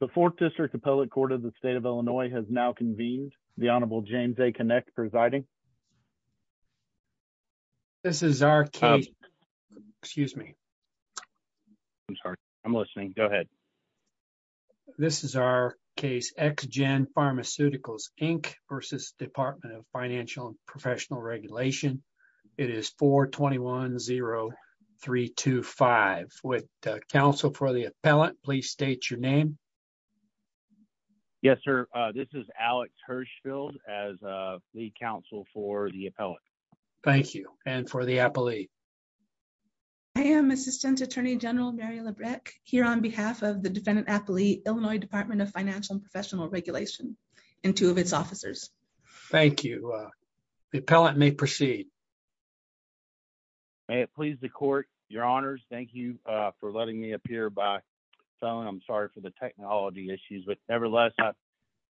The 4th District Appellate Court of the State of Illinois has now convened. The Honorable James A. Kinect presiding. This is our case. Excuse me. I'm sorry. I'm listening. Go ahead. This is our case. X-Gen Pharmaceuticals, Inc. v. Department of Financial and Professional Regulation. It is 4-21-0-3-2-5. Would the counsel for the appellant please state your name? Yes, sir. This is Alex Hirschfeld as the counsel for the appellant. Thank you. And for the appellate? I am Assistant Attorney General Mary Labreck, here on behalf of the defendant appellee, Illinois Department of Financial and Professional Regulation, and two of its officers. Thank you. The appellant may proceed. May it please the court, your honors, thank you for letting me appear by phone. I'm sorry for the technology issues, but nevertheless,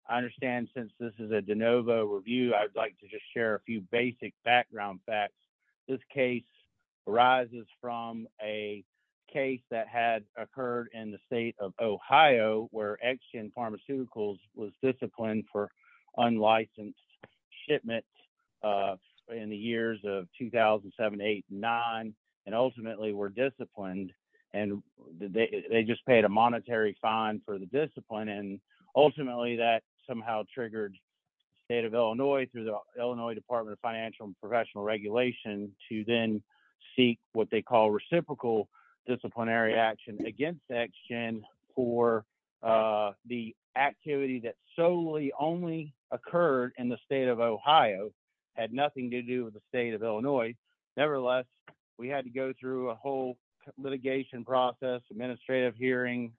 I understand since this is a de novo review, I'd like to just share a few basic background facts. This case arises from a case that had occurred in the state of Ohio where X-Gen Pharmaceuticals was disciplined for unlicensed shipment in the years of 2007, 8, 9, and ultimately were disciplined. They just paid a monetary fine for the discipline and ultimately that somehow triggered the state of Illinois through the Illinois Department of Financial and Professional Regulation to then seek what they call reciprocal disciplinary action against X-Gen for the activity that solely only occurred in the state of Ohio. Had nothing to do with the state of Illinois. Nevertheless, we had to go through a whole litigation process, administrative hearing,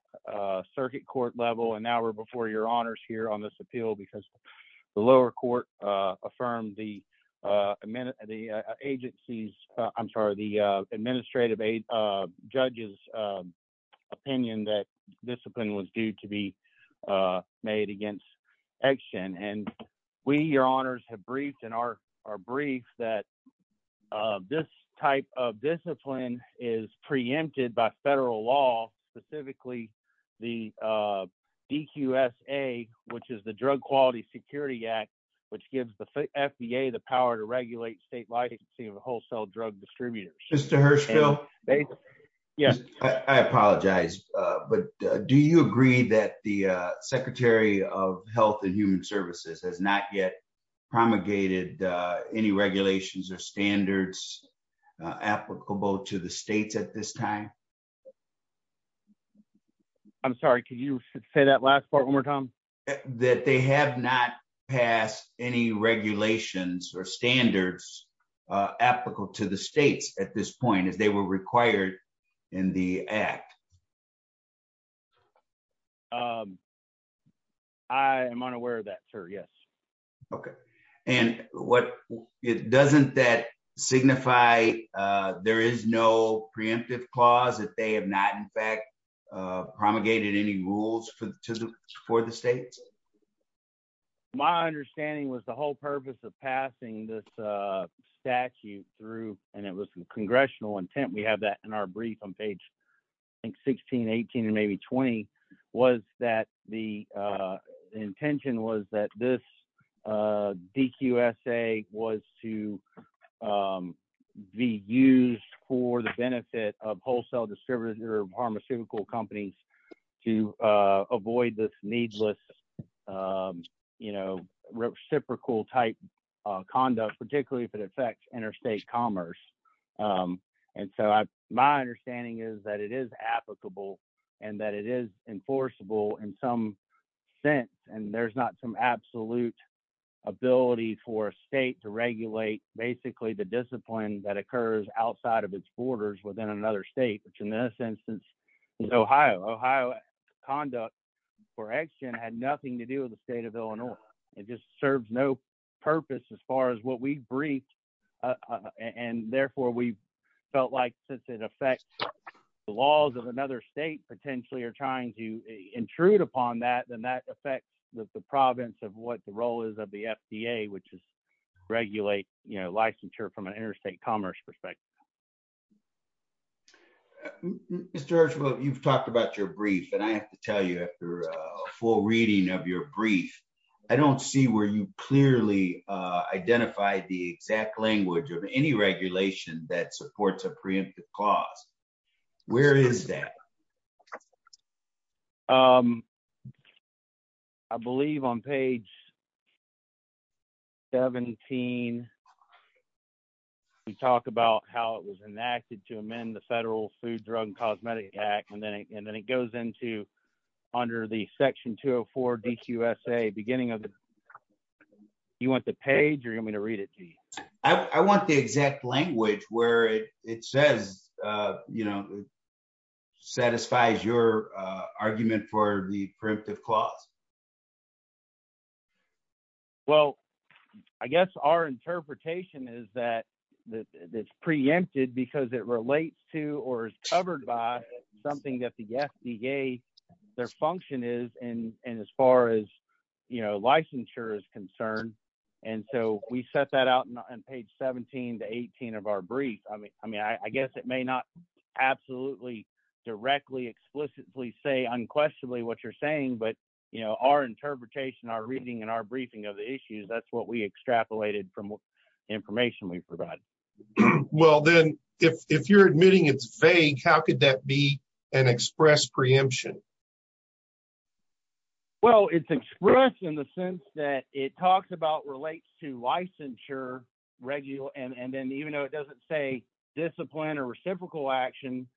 circuit court level, and now we're before your honors here on this appeal because the lower court affirmed the agency's, I'm sorry, the administrative judge's opinion that discipline was due to be made against X-Gen. And we, your honors, have briefed and are briefed that this type of discipline is preempted by federal law, specifically the DQSA, which is the Drug Quality Security Act, which gives the FDA the power to regulate state licensing of wholesale drug distributors. Mr. Hershfield? Yes. I apologize, but do you agree that the Secretary of Health and Human Services has not yet promulgated any regulations or standards applicable to the states at this time? I'm sorry, could you say that last part one more time? That they have not passed any regulations or standards applicable to the states at this point as they were required in the act. I am unaware of that, sir, yes. Okay. And doesn't that signify there is no preemptive clause that they have not, in fact, promulgated any rules for the states? My understanding was the whole purpose of passing this statute through, and it was congressional intent, we have that in our brief on page 16, 18, and maybe 20, was that the intention was that this DQSA was to be used for the benefit of wholesale distributor of pharmaceutical companies to avoid this needless, you know, reciprocal type conduct, particularly if it affects interstate commerce. And so my understanding is that it is applicable, and that it is enforceable in some sense, and there's not some absolute ability for a state to regulate basically the discipline that occurs outside of its borders within another state, which in this instance, Ohio, Ohio conduct for action had nothing to do with the state of Illinois. It just serves no purpose as far as what we briefed. And therefore, we felt like since it affects the laws of another state potentially are trying to intrude upon that, then that affects the province of what the role is of the FDA, which is regulate, you know, licensure from an interstate commerce perspective. Mr. You've talked about your brief and I have to tell you after a full reading of your brief. I don't see where you clearly identify the exact language of any regulation that supports a preemptive cause. Where is that. I believe on page 17. We talked about how it was enacted to amend the Federal Food Drug and Cosmetic Act and then it goes into under the section 204 DQSA beginning of the. You want the page or you want me to read it to you. I want the exact language where it says, you know, satisfies your argument for the preemptive clause. Well, I guess our interpretation is that it's preempted because it relates to or is covered by something that the FDA, their function is and and as far as, you know, licensure is concerned. And so we set that out on page 17 to 18 of our brief. I mean, I mean, I guess it may not absolutely directly explicitly say unquestionably what you're saying. But, you know, our interpretation, our reading and our briefing of the issues. That's what we extrapolated from information we provide. Well, then, if you're admitting it's vague. How could that be an express preemption. Well, it's expressed in the sense that it talks about relates to licensure regular and then even though it doesn't say discipline or reciprocal action.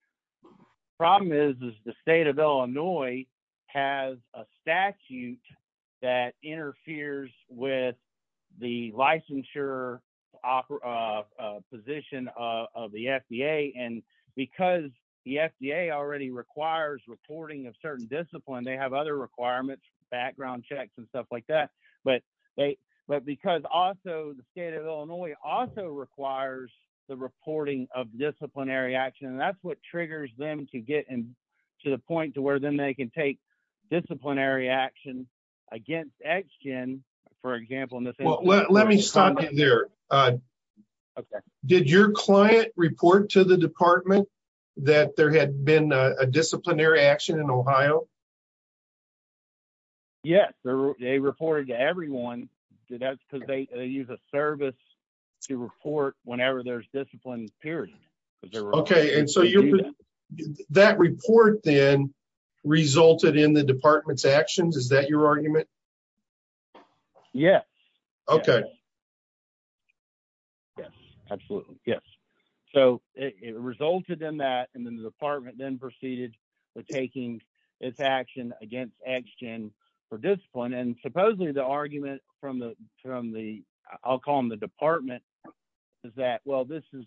Problem is, is the state of Illinois has a statute that interferes with the licensure position of the FDA and because the FDA already requires reporting of certain discipline. They have other requirements, background checks and stuff like that. But they but because also the state of Illinois also requires the reporting of disciplinary action. And that's what triggers them to get in to the point to where then they can take disciplinary action against action. Well, let me stop you there. Okay. Did your client report to the department that there had been a disciplinary action in Ohio. Yes, they reported to everyone. That's because they use a service to report whenever there's discipline period. Okay. And so that report then resulted in the department's actions. Is that your argument. Yes. Okay. Yes, absolutely. Yes. So, it resulted in that and then the department then proceeded with taking its action against action for discipline and supposedly the argument from the, from the, I'll call them the department. Is that well this is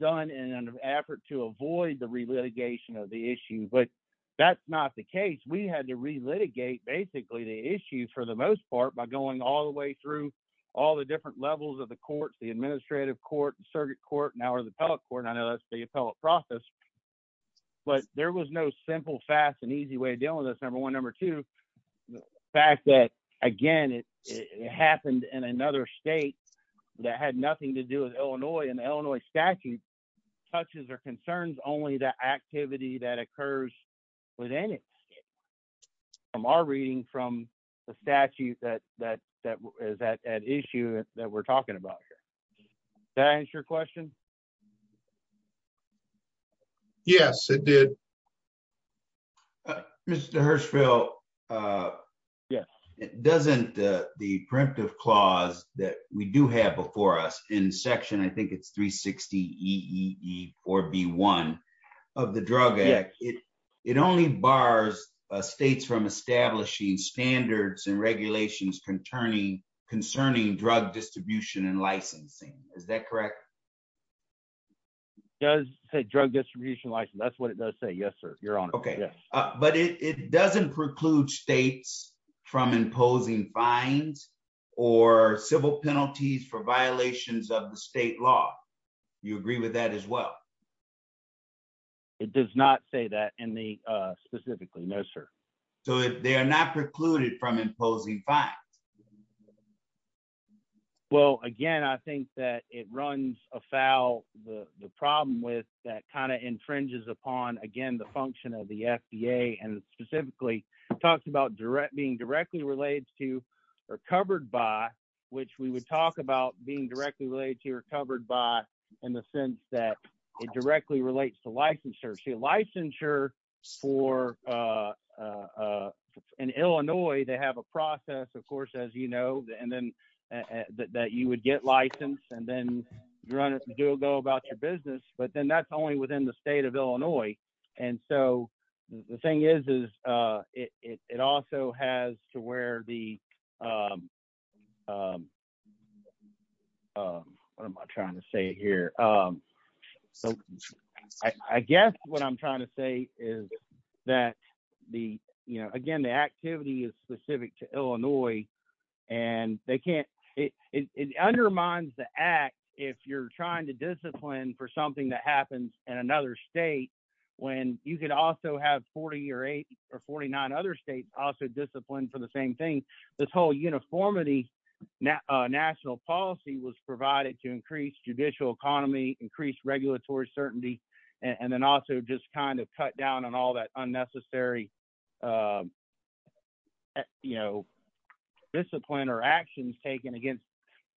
done in an effort to avoid the relegation of the issue but that's not the case we had to relitigate basically the issue for the most part by going all the way through all the different levels of the courts the administrative court and circuit court now or the appellate court I know that's the appellate process. But there was no simple fast and easy way to deal with this number one number two fact that, again, it happened in another state that had nothing to do with Illinois and Illinois statute touches or concerns only the activity that occurs within it. From our reading from the statute that that that is that issue that we're talking about here. That answer your question. Yes, it did. Mr Hirschfield. Yes, it doesn't. The print of clause that we do have before us in section I think it's 360 or be one of the drug it. It only bars states from establishing standards and regulations concerning concerning drug distribution and licensing. Is that correct. Does say drug distribution license that's what it does say yes sir, you're on. Okay. But it doesn't preclude states from imposing fines or civil penalties for violations of the state law. You agree with that as well. It does not say that in the specifically no sir. So they are not precluded from imposing fine. Well, again, I think that it runs afoul the problem with that kind of infringes upon again the function of the FDA and specifically talks about direct being directly related to are covered by, which we would talk about being directly related to the state of Illinois. And then, of course, as you know, and then that you would get license and then run it do go about your business, but then that's only within the state of Illinois. And so, the thing is, is it also has to where the What am I trying to say here. So, I guess what I'm trying to say is that the, you know, again the activity is specific to Illinois, and they can't it undermines the act. If you're trying to discipline for something that happens in another state. When you can also have 40 or eight or 49 other states also disciplined for the same thing. This whole uniformity now national policy was provided to increase judicial economy increased regulatory certainty and then also just kind of cut down on all that unnecessary. You know, discipline or actions taken against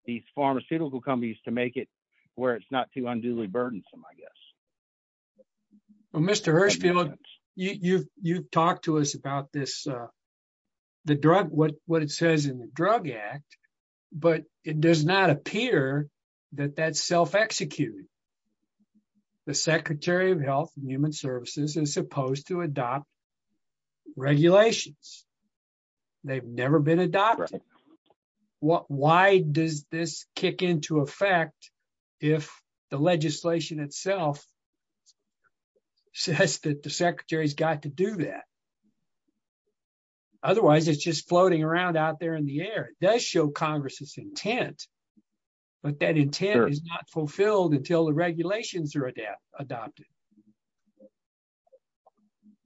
these pharmaceutical companies to make it where it's not too unduly burdensome, I guess. Mr. You've, you've talked to us about this. The drug what what it says in the drug act, but it does not appear that that self execute. The Secretary of Health Human Services is supposed to adopt regulations. They've never been adopted. What, why does this kick into effect. If the legislation itself says that the Secretary's got to do that. Otherwise, it's just floating around out there in the air does show Congress's intent, but that intent is fulfilled until the regulations are adapted adopted.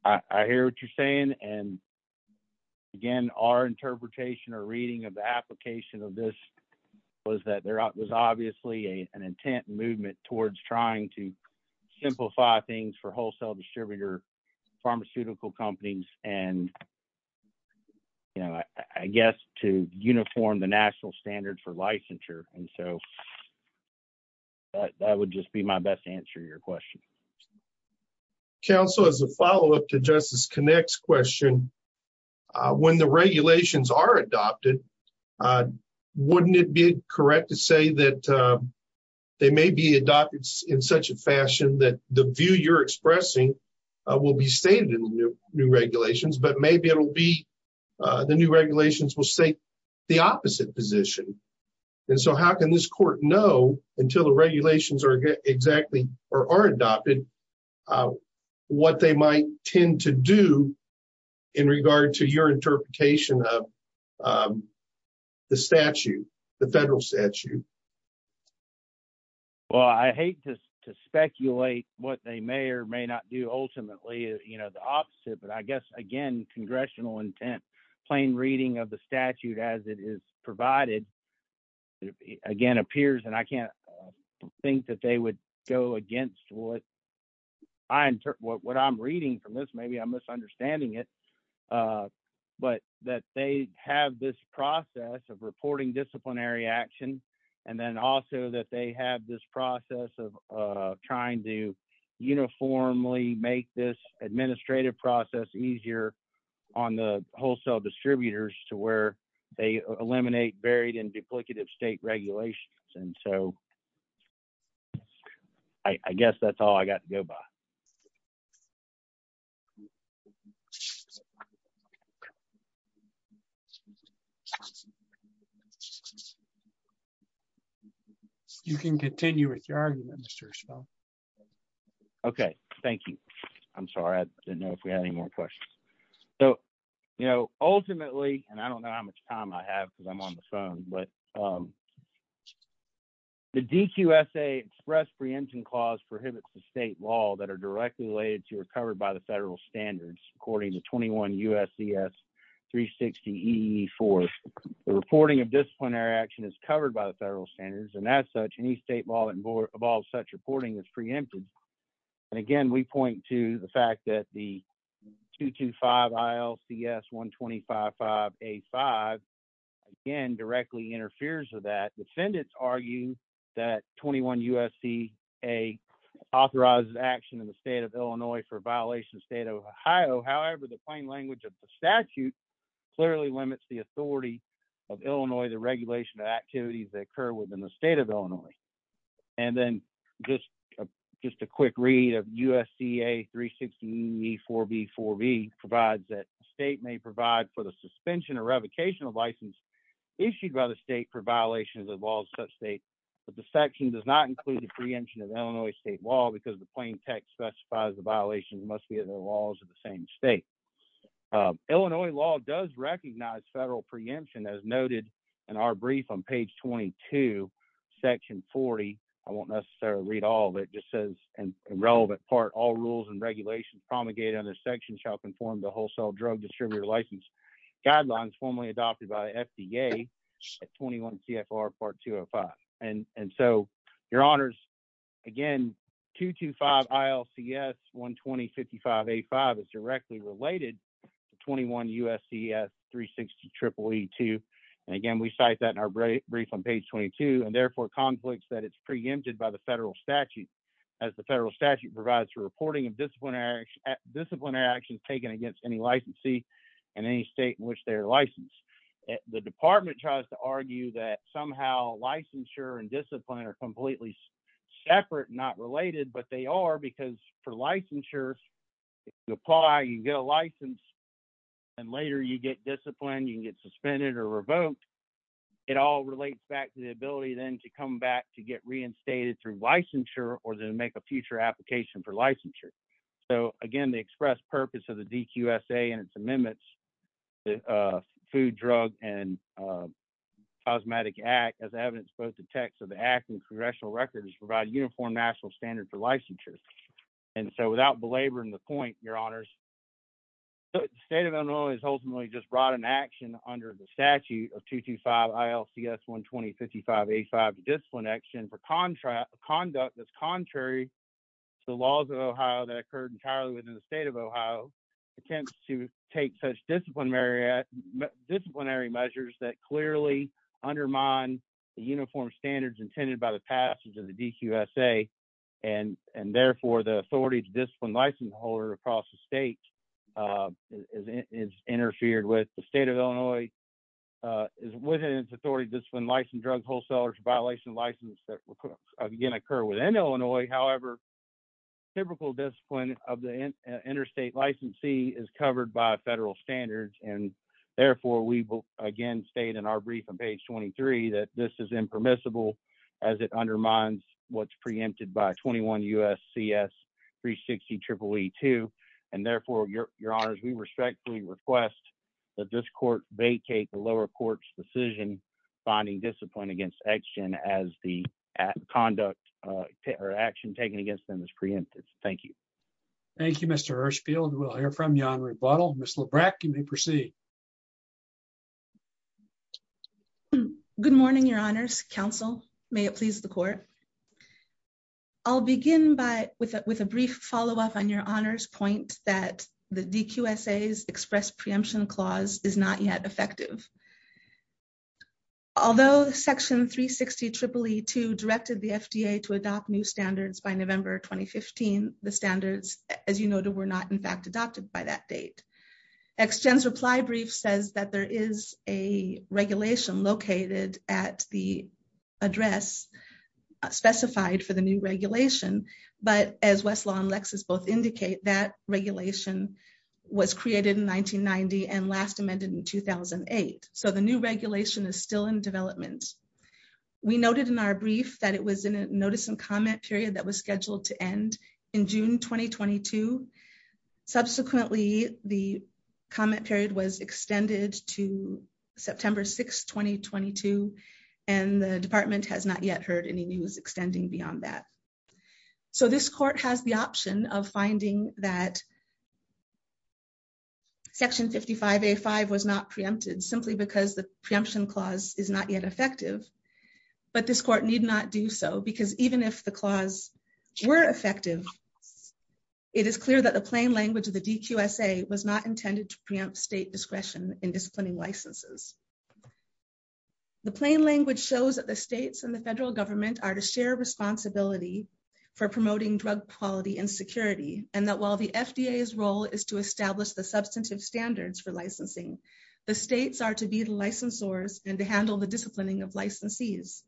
I hear what you're saying. And again, our interpretation or reading of the application of this was that there was obviously a an intent movement towards trying to simplify things for wholesale distributor pharmaceutical companies, and, you know, I guess to Council as a follow up to justice connects question. When the regulations are adopted. Wouldn't it be correct to say that they may be adopted in such a fashion that the view you're expressing will be stated in the new regulations, but maybe it'll be the new regulations will say the opposite position. And so how can this court know until the regulations are exactly or are adopted. What they might tend to do in regard to your interpretation of the statute, the federal statute. Well, I hate to speculate what they may or may not do ultimately, you know, the opposite but I guess again congressional intent plain reading of the statute as it is provided. Again appears and I can't think that they would go against what I'm what I'm reading from this maybe I'm misunderstanding it. But that they have this process of reporting disciplinary action. And then also that they have this process of trying to uniformly make this administrative process easier on the wholesale distributors to where they eliminate buried in duplicative state regulations and so I guess that's all I got to go by. Thank you. You can continue with your argument. Okay, thank you. I'm sorry I didn't know if we had any more questions. So, you know, ultimately, and I don't know how much time I have because I'm on the phone but the DQ s a express preemption clause prohibits the state law that are directly related to or covered by the federal standards, according to 21 usds 360 e for the reporting of disciplinary action is covered by the federal standards and as such any state law that involves such reporting is preempted. And again, we point to the fact that the 225 ILC s 125 five, a five, again directly interferes with that defendants argue that 21 USC, a authorized action in the state of Illinois for violation state of Ohio however the plain language of the statute clearly limits the authority of Illinois the regulation of activities that occur within the state of Illinois. And then, just, just a quick read of usda 360 e for before we provide that state may provide for the suspension or revocation of license issued by the state for violations of all such states, but the section does not include the preemption of Illinois state law because the plain text specifies the violation must be the laws of the same state. Illinois law does recognize federal preemption as noted in our brief on page 22 section 40. I won't necessarily read all that just says, and relevant part all rules and regulations promulgated under section shall conform the wholesale drug distributor license guidelines formally adopted by FDA at 21 CFR part two or five. And, and so, your honors. Again, 225 ILC yes 120 5585 is directly related to 21 USC 360 triple E two. And again we cite that in our brief brief on page 22 and therefore conflicts that it's preempted by the federal statute as the federal statute provides for reporting of disciplinary disciplinary actions taken against any licensee, and any state in which their license. The department tries to argue that somehow licensure and discipline are completely separate not related but they are because for licensure. You apply you get a license. And later you get discipline you can get suspended or revoked. It all relates back to the ability then to come back to get reinstated through licensure or to make a future application for licensure. So, again, the express purpose of the DQ SA and its amendments. Food drug and cosmetic act as evidence both the text of the act and congressional records provide uniform national standard for licensure. And so without belaboring the point, your honors, the state of Illinois is ultimately just brought an action under the statute of 225 ILC yes 120 5585 discipline action for contract conduct that's contrary to the laws of Ohio that occurred entirely within the state of Ohio attempts to take such disciplinary disciplinary measures that clearly undermine the uniform standards intended by the passage of the DQ SA, and, and therefore the authority to discipline license holder across the state is interfered with the state of Illinois is within its authority discipline license drug wholesalers violation license that again occur within Illinois however typical discipline of the interstate licensee is covered by federal standards and therefore we will again state in our brief on page 23 that this is impermissible, as it undermines what's preempted by 21 us CS 360 triple E two, and therefore your, your honors we respectfully request that this court vacate the lower courts decision, finding discipline against action as the conduct or action taken against them as preemptive. Thank you. Thank you, Mr Hirschfield we'll hear from you on rebuttal, Mr Brackett may proceed. Good morning, your honors counsel, may it please the court. I'll begin by with a with a brief follow up on your honors point that the DQ essays express preemption clause is not yet effective. Although section 360 Tripoli to directed the FDA to adopt new standards by November, 2015, the standards, as you know, to we're not in fact adopted by that date extends reply brief says that there is a regulation located at the address specified for the So the new regulation is still in development. We noted in our brief that it was in a notice and comment period that was scheduled to end in June, 2022. Subsequently, the comment period was extended to September 6 2022, and the department has not yet heard any news extending beyond that. So this court has the option of finding that section 55 a five was not preempted simply because the preemption clause is not yet effective. But this court need not do so because even if the clause were effective. It is clear that the plain language of the DQ essay was not intended to preempt state discretion in disciplining licenses. The plain language shows that the states and the federal government are to share responsibility for promoting drug quality and security, and that while the FDA is role is to establish the substantive standards for licensing. The states are to be licensors and to handle the disciplining of licensees.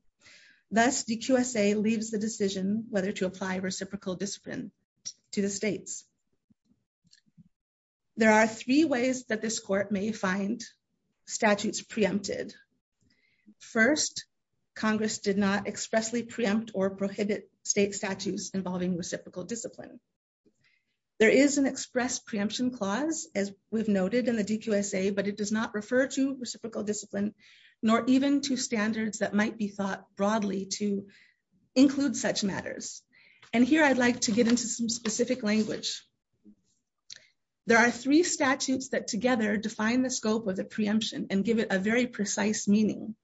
That's the USA leaves the decision whether to apply reciprocal discipline to the states. There are three ways that this court may find statutes preempted. First, Congress did not expressly preempt or prohibit state statutes involving reciprocal discipline. There is an express preemption clause, as we've noted in the DQ essay but it does not refer to reciprocal discipline, nor even to standards that might be thought broadly to include such matters. And here I'd like to get into some specific language. There are three statutes that together define the scope of the preemption and give it a very precise meaning.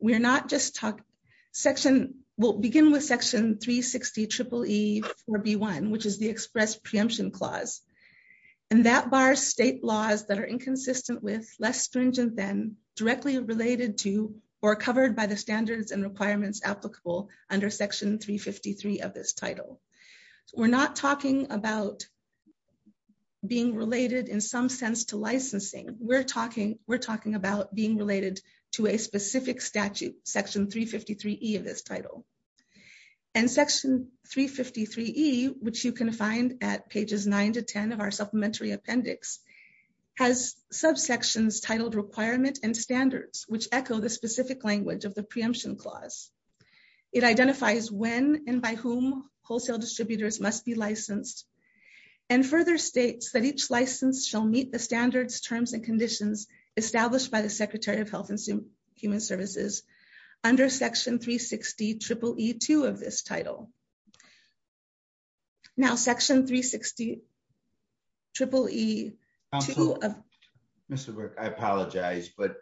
We're not just talking section will begin with section 360 triple E for B1 which is the express preemption clause. And that bar state laws that are inconsistent with less stringent than directly related to or covered by the standards and requirements applicable under section 353 of this title. We're not talking about being related in some sense to licensing, we're talking, we're talking about being related to a specific statute section 353 of this title and section 353, which you can find at pages nine to 10 of our supplementary appendix has subsections requirements and standards which echo the specific language of the preemption clause. It identifies when and by whom wholesale distributors must be licensed and further states that each license shall meet the standards terms and conditions, established by the Secretary of Health and Human Services under section 360 triple E two of this title. Now section 360 triple E. Mr. I apologize but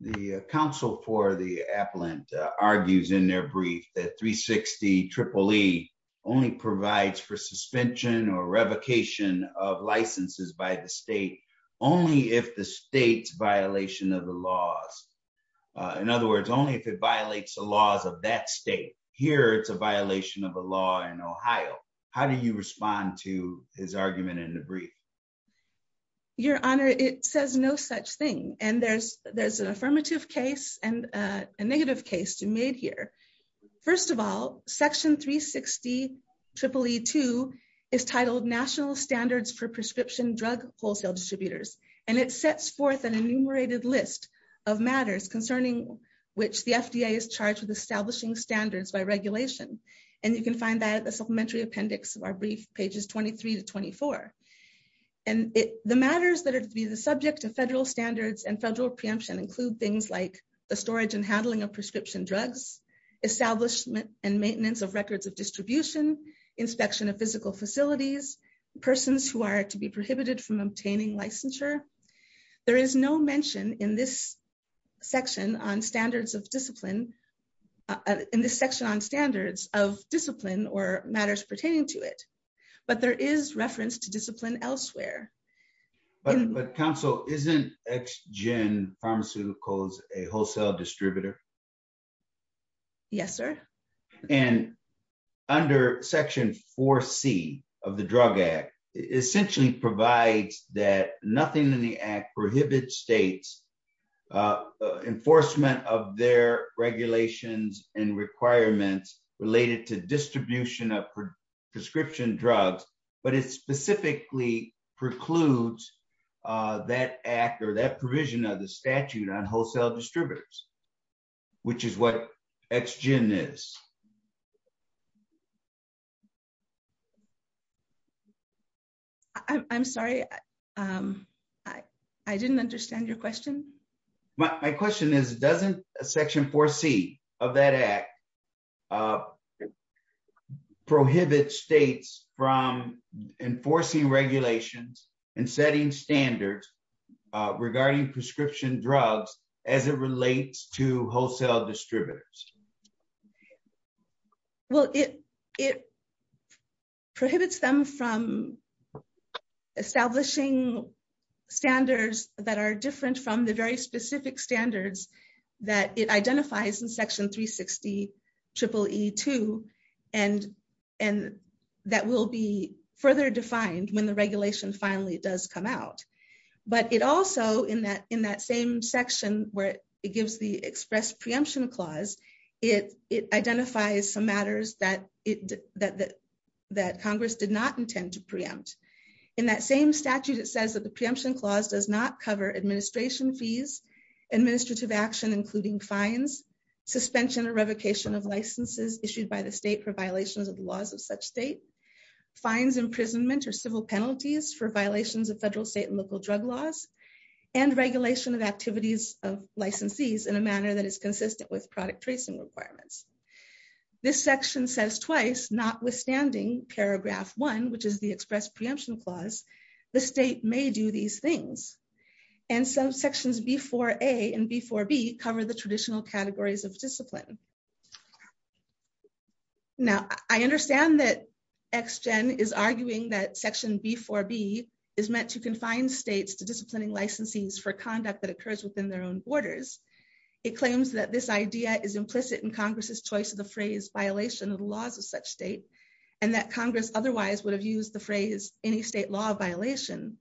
the Council for the appellant argues in their brief that 360 triple E only provides for suspension or revocation of licenses by the state. Only if the state's violation of the laws. In other words, only if it violates the laws of that state here it's a violation of a law in Ohio. How do you respond to his argument in the brief. Your Honor, it says no such thing, and there's, there's an affirmative case and a negative case to meet here. First of all, section 360 triple E two is titled national standards for prescription drug wholesale distributors, and it sets forth an enumerated list of matters concerning which the FDA is charged with establishing standards by regulation. And you can find that the supplementary appendix of our brief pages 23 to 24. And the matters that are to be the subject of federal standards and federal preemption include things like the storage and handling of prescription drugs establishment and maintenance of records of distribution inspection of physical facilities, persons who are to be prohibited from obtaining licensure. There is no mention in this section on standards of discipline in this section on standards of discipline or matters pertaining to it, but there is reference to discipline elsewhere. But Council isn't x gen pharmaceuticals, a wholesale distributor. Yes, sir. And under Section four C of the drug act, essentially provides that nothing in the act prohibits states enforcement of their regulations and requirements related to distribution of prescription drugs, but it's specifically precludes that actor that provision of the prescription drugs, which is what x gen is. I'm sorry. I didn't understand your question. My question is, doesn't a section four C of that act prohibit states from enforcing regulations and setting standards regarding prescription drugs, as it relates to wholesale distributors. Well, it, it prohibits them from establishing standards that are different from the very specific standards that it identifies in section 360 triple E two, and, and that will be further defined when the regulation finally does come out. But it also in that in that same section where it gives the express preemption clause, it, it identifies some matters that it that that Congress did not intend to preempt in that same statute, it says that the preemption clause does not cover administration administrative action including fines suspension or revocation of licenses issued by the state for violations of the laws of such state fines imprisonment or civil penalties for violations of federal, state, and local drug laws and regulation of activities of licensees in a manner that is consistent with product tracing requirements. This section says twice, notwithstanding paragraph one which is the express preemption clause, the state may do these things. And some sections before a and before be cover the traditional categories of discipline. Now, I understand that x gen is arguing that section before be is meant to confine states to disciplining licensees for conduct that occurs within their own borders. It claims that this idea is implicit in Congress's choice of the phrase violation of the laws of such state, and that Congress otherwise would have used the phrase, any state law violation.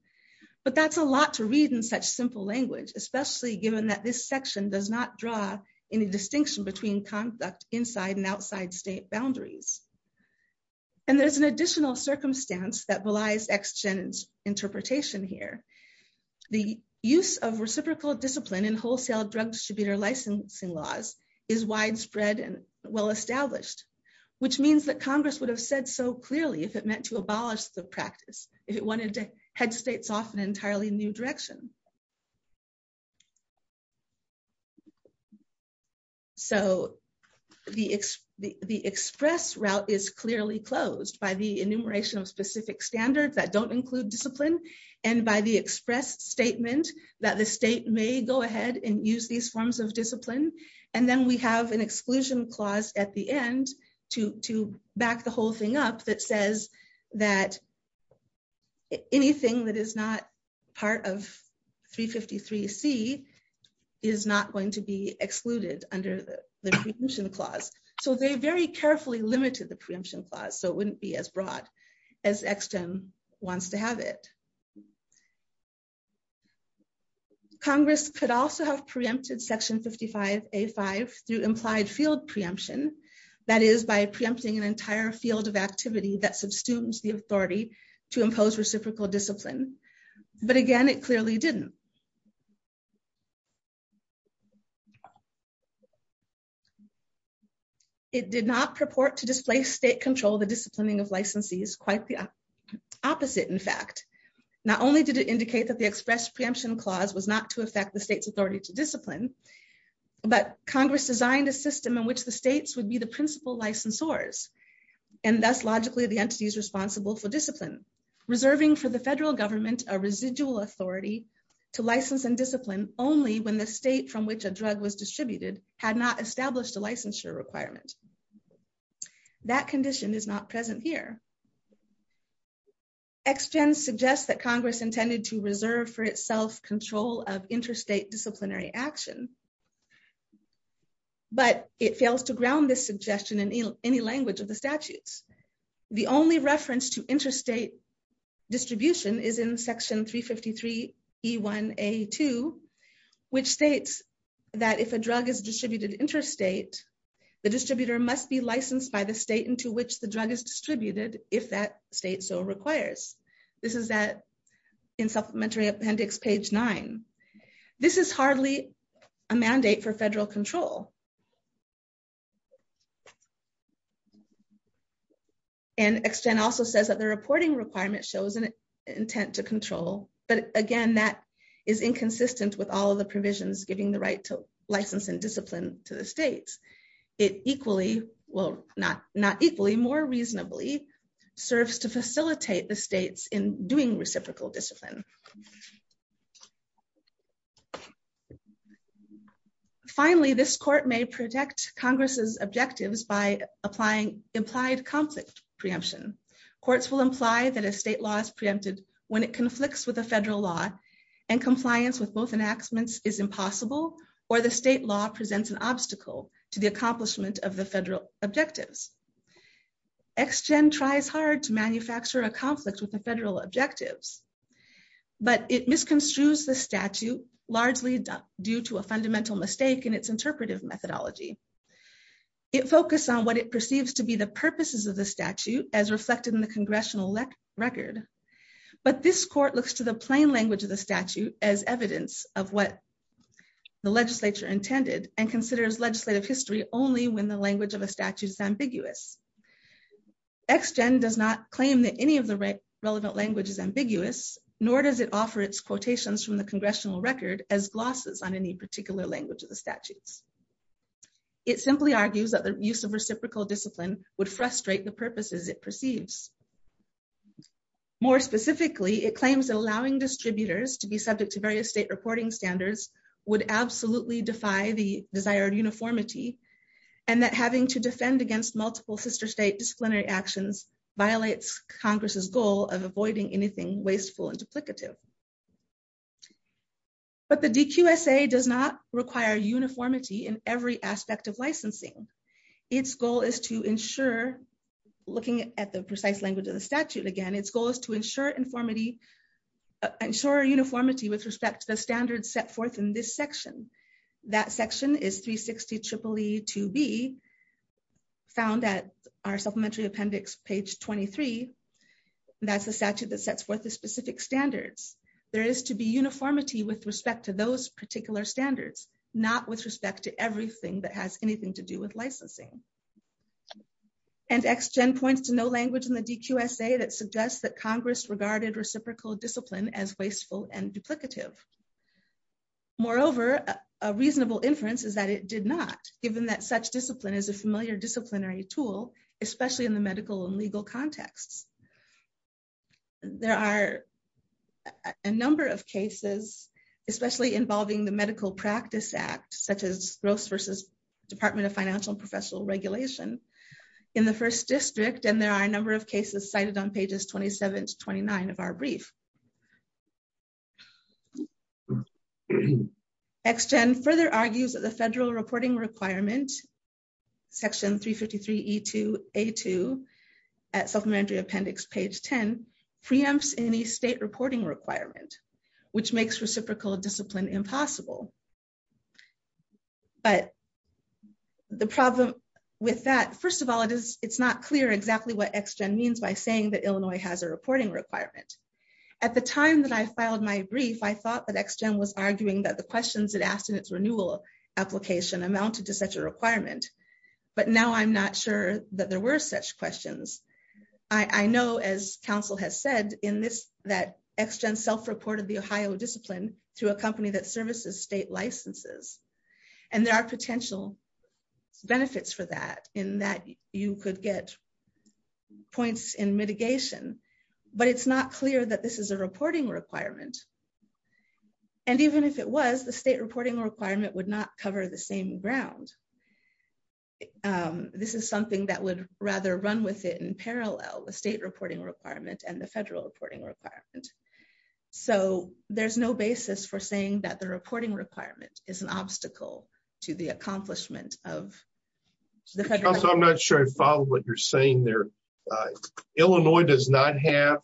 But that's a lot to read in such simple language, especially given that this section does not draw any distinction between conduct inside and outside state boundaries. And there's an additional circumstance that relies exchange interpretation here. The use of reciprocal discipline and wholesale drug distributor licensing laws is widespread and well established, which means that Congress would have said so clearly if it meant to abolish the practice, if it wanted to head states off an entirely new direction. So, the express route is clearly closed by the enumeration of specific standards that don't include discipline, and by the express statement that the state may go ahead and use these forms of discipline. And then we have an exclusion clause at the end to back the whole thing up that says that anything that is not part of 353 C is not going to be excluded under the preemption clause, so they very carefully limited the preemption clause so it wouldn't be as broad as wants to have it. Congress could also have preempted section 55A5 through implied field preemption, that is by preempting an entire field of activity that substitutes the authority to impose reciprocal discipline, but again it clearly didn't. It did not purport to display state control the disciplining of licensees quite the opposite. In fact, not only did it indicate that the express preemption clause was not to affect the state's authority to discipline, but Congress designed a system in which the state from which a drug was distributed had not established a licensure requirement. That condition is not present here. XGEN suggests that Congress intended to reserve for itself control of interstate disciplinary action. But it fails to ground this suggestion in any language of the statutes. The only reference to interstate distribution is in section 353 E1A2, which states that if a drug is distributed interstate, the distributor must be licensed by the state into which the drug is distributed, if that state so requires. This is that in supplementary appendix page nine. This is hardly a mandate for federal control. And XGEN also says that the reporting requirement shows an intent to control, but again that is inconsistent with all of the provisions giving the right to license and discipline to the states. It equally, well, not equally, more reasonably serves to facilitate the states in doing reciprocal discipline. Finally, this court may protect Congress's objectives by applying implied conflict preemption. Courts will imply that a state law is preempted when it conflicts with a federal law and compliance with both enactments is impossible or the state law presents an obstacle to the accomplishment of the federal objectives. XGEN tries hard to manufacture a conflict with the federal objectives. But it misconstrues the statute, largely due to a fundamental mistake in its interpretive methodology. It focused on what it perceives to be the purposes of the statute as reflected in the congressional record. But this court looks to the plain language of the statute as evidence of what the legislature intended and considers legislative history only when the language of a statute is ambiguous. XGEN does not claim that any of the relevant language is ambiguous, nor does it offer its quotations from the congressional record as glosses on any particular language of the statutes. It simply argues that the use of reciprocal discipline would frustrate the purposes it perceives. More specifically, it claims that allowing distributors to be subject to various state reporting standards would absolutely defy the desired uniformity and that having to defend against multiple sister state disciplinary actions violates Congress's goal of avoiding anything wasteful and duplicative. But the DQSA does not require uniformity in every aspect of licensing. Its goal is to ensure, looking at the precise language of the statute again, its goal is to ensure uniformity with respect to the standards set forth in this section. That section is 360-EEE-2B, found at our supplementary appendix, page 23. That's the statute that sets forth the specific standards. There is to be uniformity with respect to those particular standards, not with respect to everything that has anything to do with licensing. And XGEN points to no language in the DQSA that suggests that Congress regarded reciprocal discipline as wasteful and duplicative. Moreover, a reasonable inference is that it did not, given that such discipline is a familiar disciplinary tool, especially in the medical and legal contexts. There are a number of cases, especially involving the Medical Practice Act, such as Gross v. Department of Financial and Professional Regulation, in the First District, and there are a number of cases cited on pages 27-29 of our brief. XGEN further argues that the federal reporting requirement, section 353-E2A2, at supplementary appendix page 10, preempts any state reporting requirement, which makes reciprocal discipline impossible. But the problem with that, first of all, it's not clear exactly what XGEN means by saying that Illinois has a reporting requirement. At the time that I filed my brief, I thought that XGEN was arguing that the questions it asked in its renewal application amounted to such a requirement, but now I'm not sure that there were such questions. I know, as counsel has said, that XGEN self-reported the Ohio discipline through a company that services state licenses, and there are potential benefits for that, in that you could get points in mitigation, but it's not clear that this is a reporting requirement. And even if it was, the state reporting requirement would not cover the same ground. This is something that would rather run with it in parallel, the state reporting requirement and the federal reporting requirement. So there's no basis for saying that the reporting requirement is an obstacle to the accomplishment of the federal… I'm not sure I follow what you're saying there. Illinois does not have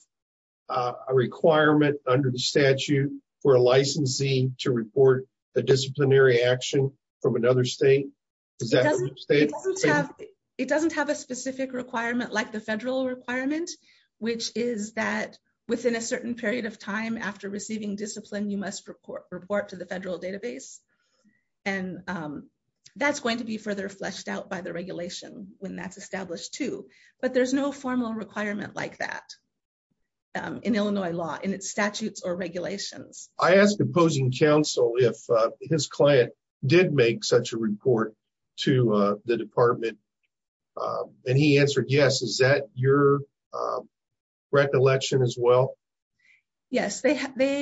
a requirement under the statute for a licensee to report a disciplinary action from another state? It doesn't have a specific requirement like the federal requirement, which is that within a certain period of time after receiving discipline, you must report to the federal database. And that's going to be further fleshed out by the regulation when that's established too, but there's no formal requirement like that in Illinois law, in its statutes or regulations. I asked opposing counsel if his client did make such a report to the department, and he answered yes. Is that your recollection as well? Yes, they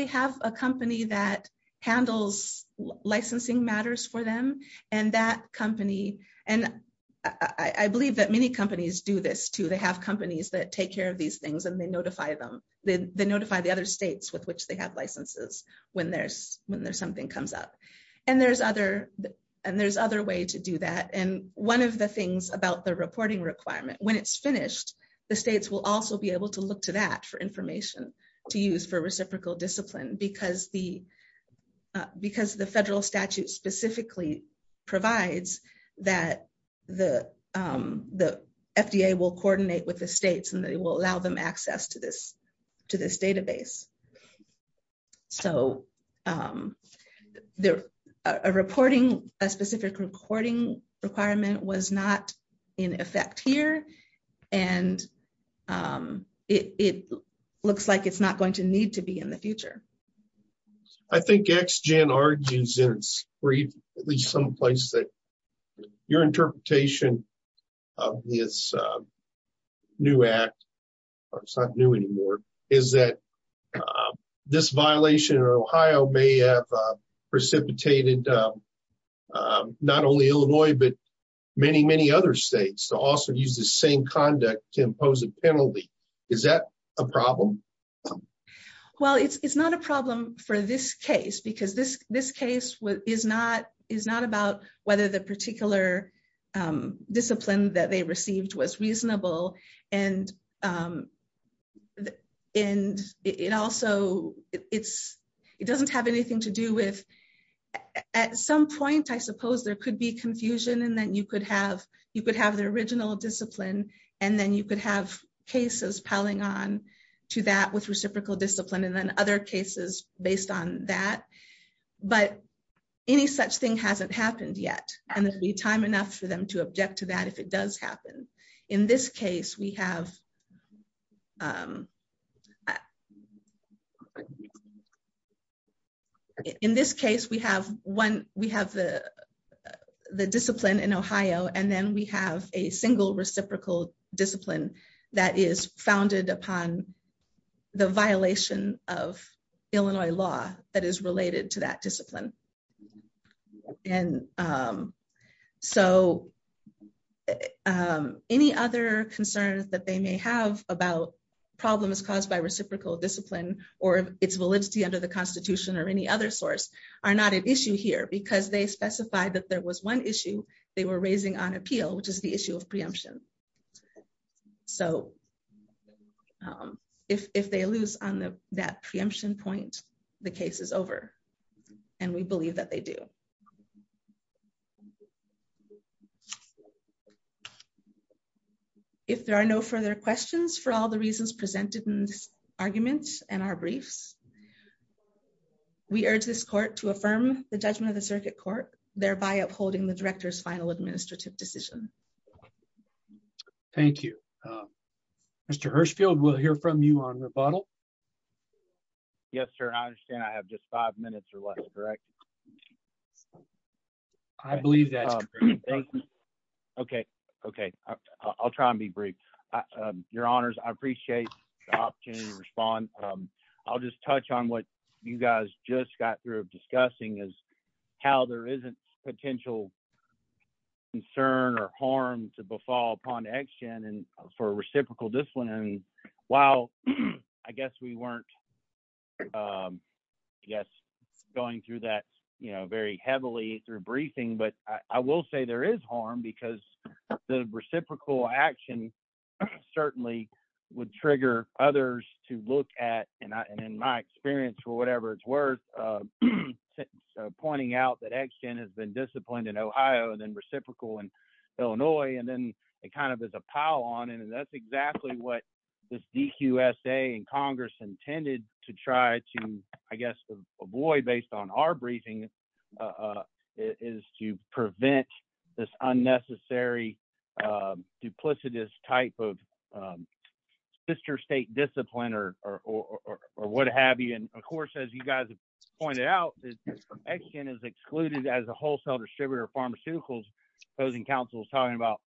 have a company that handles licensing matters for them, and that company… And I believe that many companies do this too. They have companies that take care of these things and they notify them. They notify the other states with which they have licenses when there's something comes up. And there's other ways to do that, and one of the things about the reporting requirement, when it's finished, the states will also be able to look to that for information to use for reciprocal discipline because the federal statute specifically provides that the FDA will coordinate with the states and they will allow them access to this database. So, a specific reporting requirement was not in effect here, and it looks like it's not going to need to be in the future. I think ex-gen argues in at least some place that your interpretation of this new act, or it's not new anymore, is that this violation in Ohio may have precipitated not only Illinois but many, many other states to also use the same conduct to impose a penalty. Is that a problem? Well, it's not a problem for this case because this case is not about whether the particular discipline that they received was reasonable, and it doesn't have anything to do with… …that, with reciprocal discipline, and then other cases based on that. But any such thing hasn't happened yet, and there'll be time enough for them to object to that if it does happen. In this case, we have the discipline in Ohio, and then we have a single reciprocal discipline that is founded upon the violation of Illinois law that is related to that discipline. And so, any other concerns that they may have about problems caused by reciprocal discipline or its validity under the Constitution or any other source are not an issue here because they specified that there was one issue they were raising on appeal, which is the issue of preemption. So, if they lose on that preemption point, the case is over, and we believe that they do. If there are no further questions, for all the reasons presented in this argument and our briefs, we urge this Court to affirm the judgment of the Circuit Court, thereby upholding the Director's final administrative decision. Thank you. Mr. Hirshfield, we'll hear from you on rebuttal. Yes, sir, and I understand I have just five minutes or less, correct? I believe that. Okay, okay, I'll try and be brief. Your Honors, I appreciate the opportunity to respond. I'll just touch on what you guys just got through discussing is how there isn't potential concern or harm to befall upon action for reciprocal discipline. And while I guess we weren't, I guess, going through that, you know, very heavily through briefing, but I will say there is harm because the reciprocal action certainly would trigger others to look at, and in my experience for whatever it's worth, pointing out that action has been disciplined in Ohio and then reciprocal in Illinois, and then it kind of is a pile on, and that's exactly what this DQSA and Congress intended to try to, I guess, avoid based on our briefing is to prevent this unnecessary duplicitous type of sister state discipline or what have you. And, of course, as you guys pointed out, action is excluded as a wholesale distributor of pharmaceuticals. Housing Council is talking about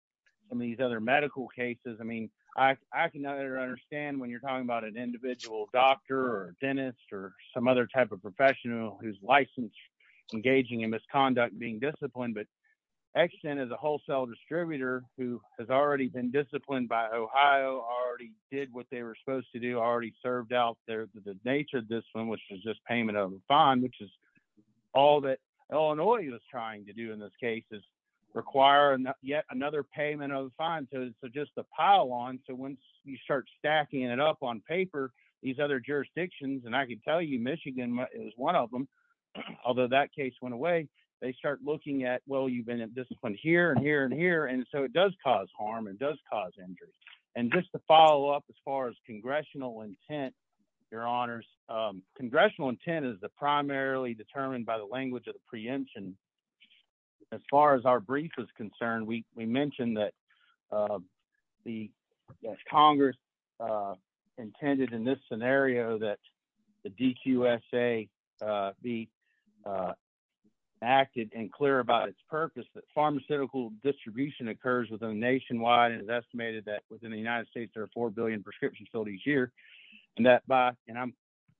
some of these other medical cases. I mean, I can understand when you're talking about an individual doctor or dentist or some other type of professional who's licensed, engaging in misconduct, being disciplined. But action is a wholesale distributor who has already been disciplined by Ohio, already did what they were supposed to do, already served out the nature of discipline, which is just payment of the fine, which is all that Illinois was trying to do in this case is require yet another payment of the fine. And so just a pile on, so once you start stacking it up on paper, these other jurisdictions, and I can tell you Michigan is one of them, although that case went away, they start looking at, well, you've been disciplined here and here and here, and so it does cause harm and does cause injury. And just to follow up as far as congressional intent, your honors, congressional intent is the primarily determined by the language of the preemption. As far as our brief is concerned, we mentioned that Congress intended in this scenario that the DQSA be active and clear about its purpose, that pharmaceutical distribution occurs within nationwide and is estimated that within the United States there are 4 billion prescriptions filled each year. And I'm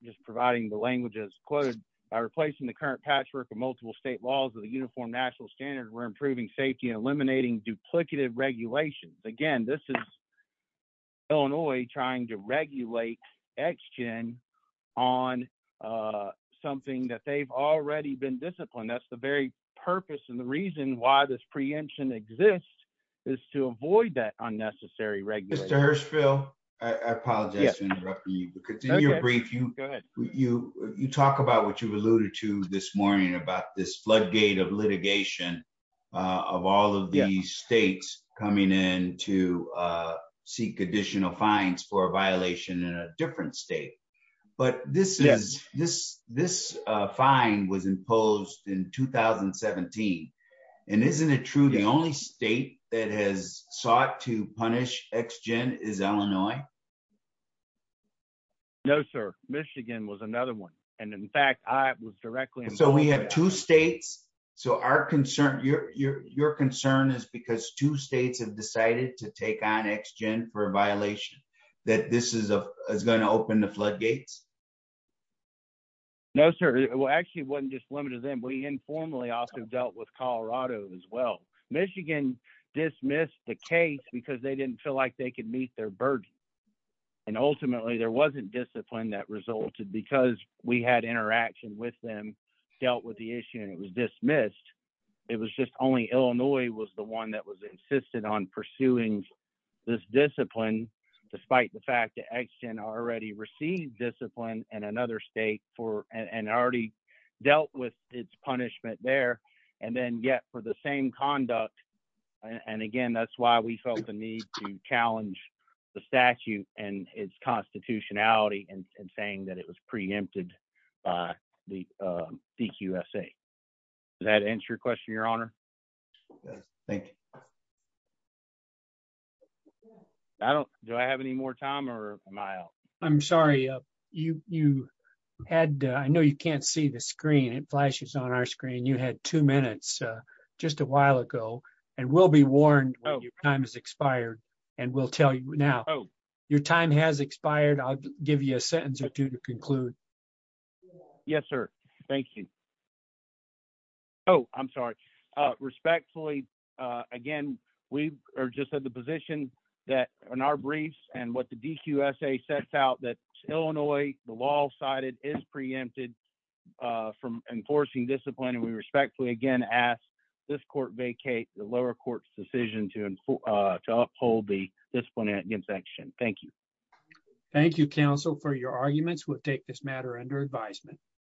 just providing the language as quoted, by replacing the current patchwork of multiple state laws with a uniform national standard, we're improving safety and eliminating duplicative regulations. Again, this is Illinois trying to regulate action on something that they've already been disciplined, that's the very purpose and the reason why this preemption exists is to avoid that unnecessary regulation. Mr. Hirshfield, I apologize for interrupting you, because in your brief you talk about what you've alluded to this morning about this floodgate of litigation of all of the states coming in to seek additional fines for a violation in a different state. But this fine was imposed in 2017. And isn't it true the only state that has sought to punish ex-gen is Illinois? No, sir. Michigan was another one. And in fact, I was directly involved. So we have two states. So your concern is because two states have decided to take on ex-gen for a violation, that this is going to open the floodgates? No, sir. It actually wasn't just limited to them. We informally also dealt with Colorado as well. Michigan dismissed the case because they didn't feel like they could meet their burden. And ultimately, there wasn't discipline that resulted because we had interaction with them, dealt with the issue, and it was dismissed. It was just only Illinois was the one that was insisted on pursuing this discipline, despite the fact that ex-gen already received discipline in another state and already dealt with its punishment there. And then yet for the same conduct. And again, that's why we felt the need to challenge the statute and its constitutionality and saying that it was preempted by the DQSA. Does that answer your question, Your Honor? Thank you. Do I have any more time or am I out? I'm sorry. I know you can't see the screen. It flashes on our screen. You had two minutes just a while ago and will be warned when your time has expired. And we'll tell you now. Your time has expired. I'll give you a sentence or two to conclude. Yes, sir. Thank you. Oh, I'm sorry. Respectfully, again, we are just at the position that in our briefs and what the DQSA sets out that Illinois, the law cited, is preempted from enforcing discipline. And we respectfully again ask this court vacate the lower court's decision to uphold the discipline against ex-gen. Thank you. Thank you, counsel, for your arguments. We'll take this matter under advisement.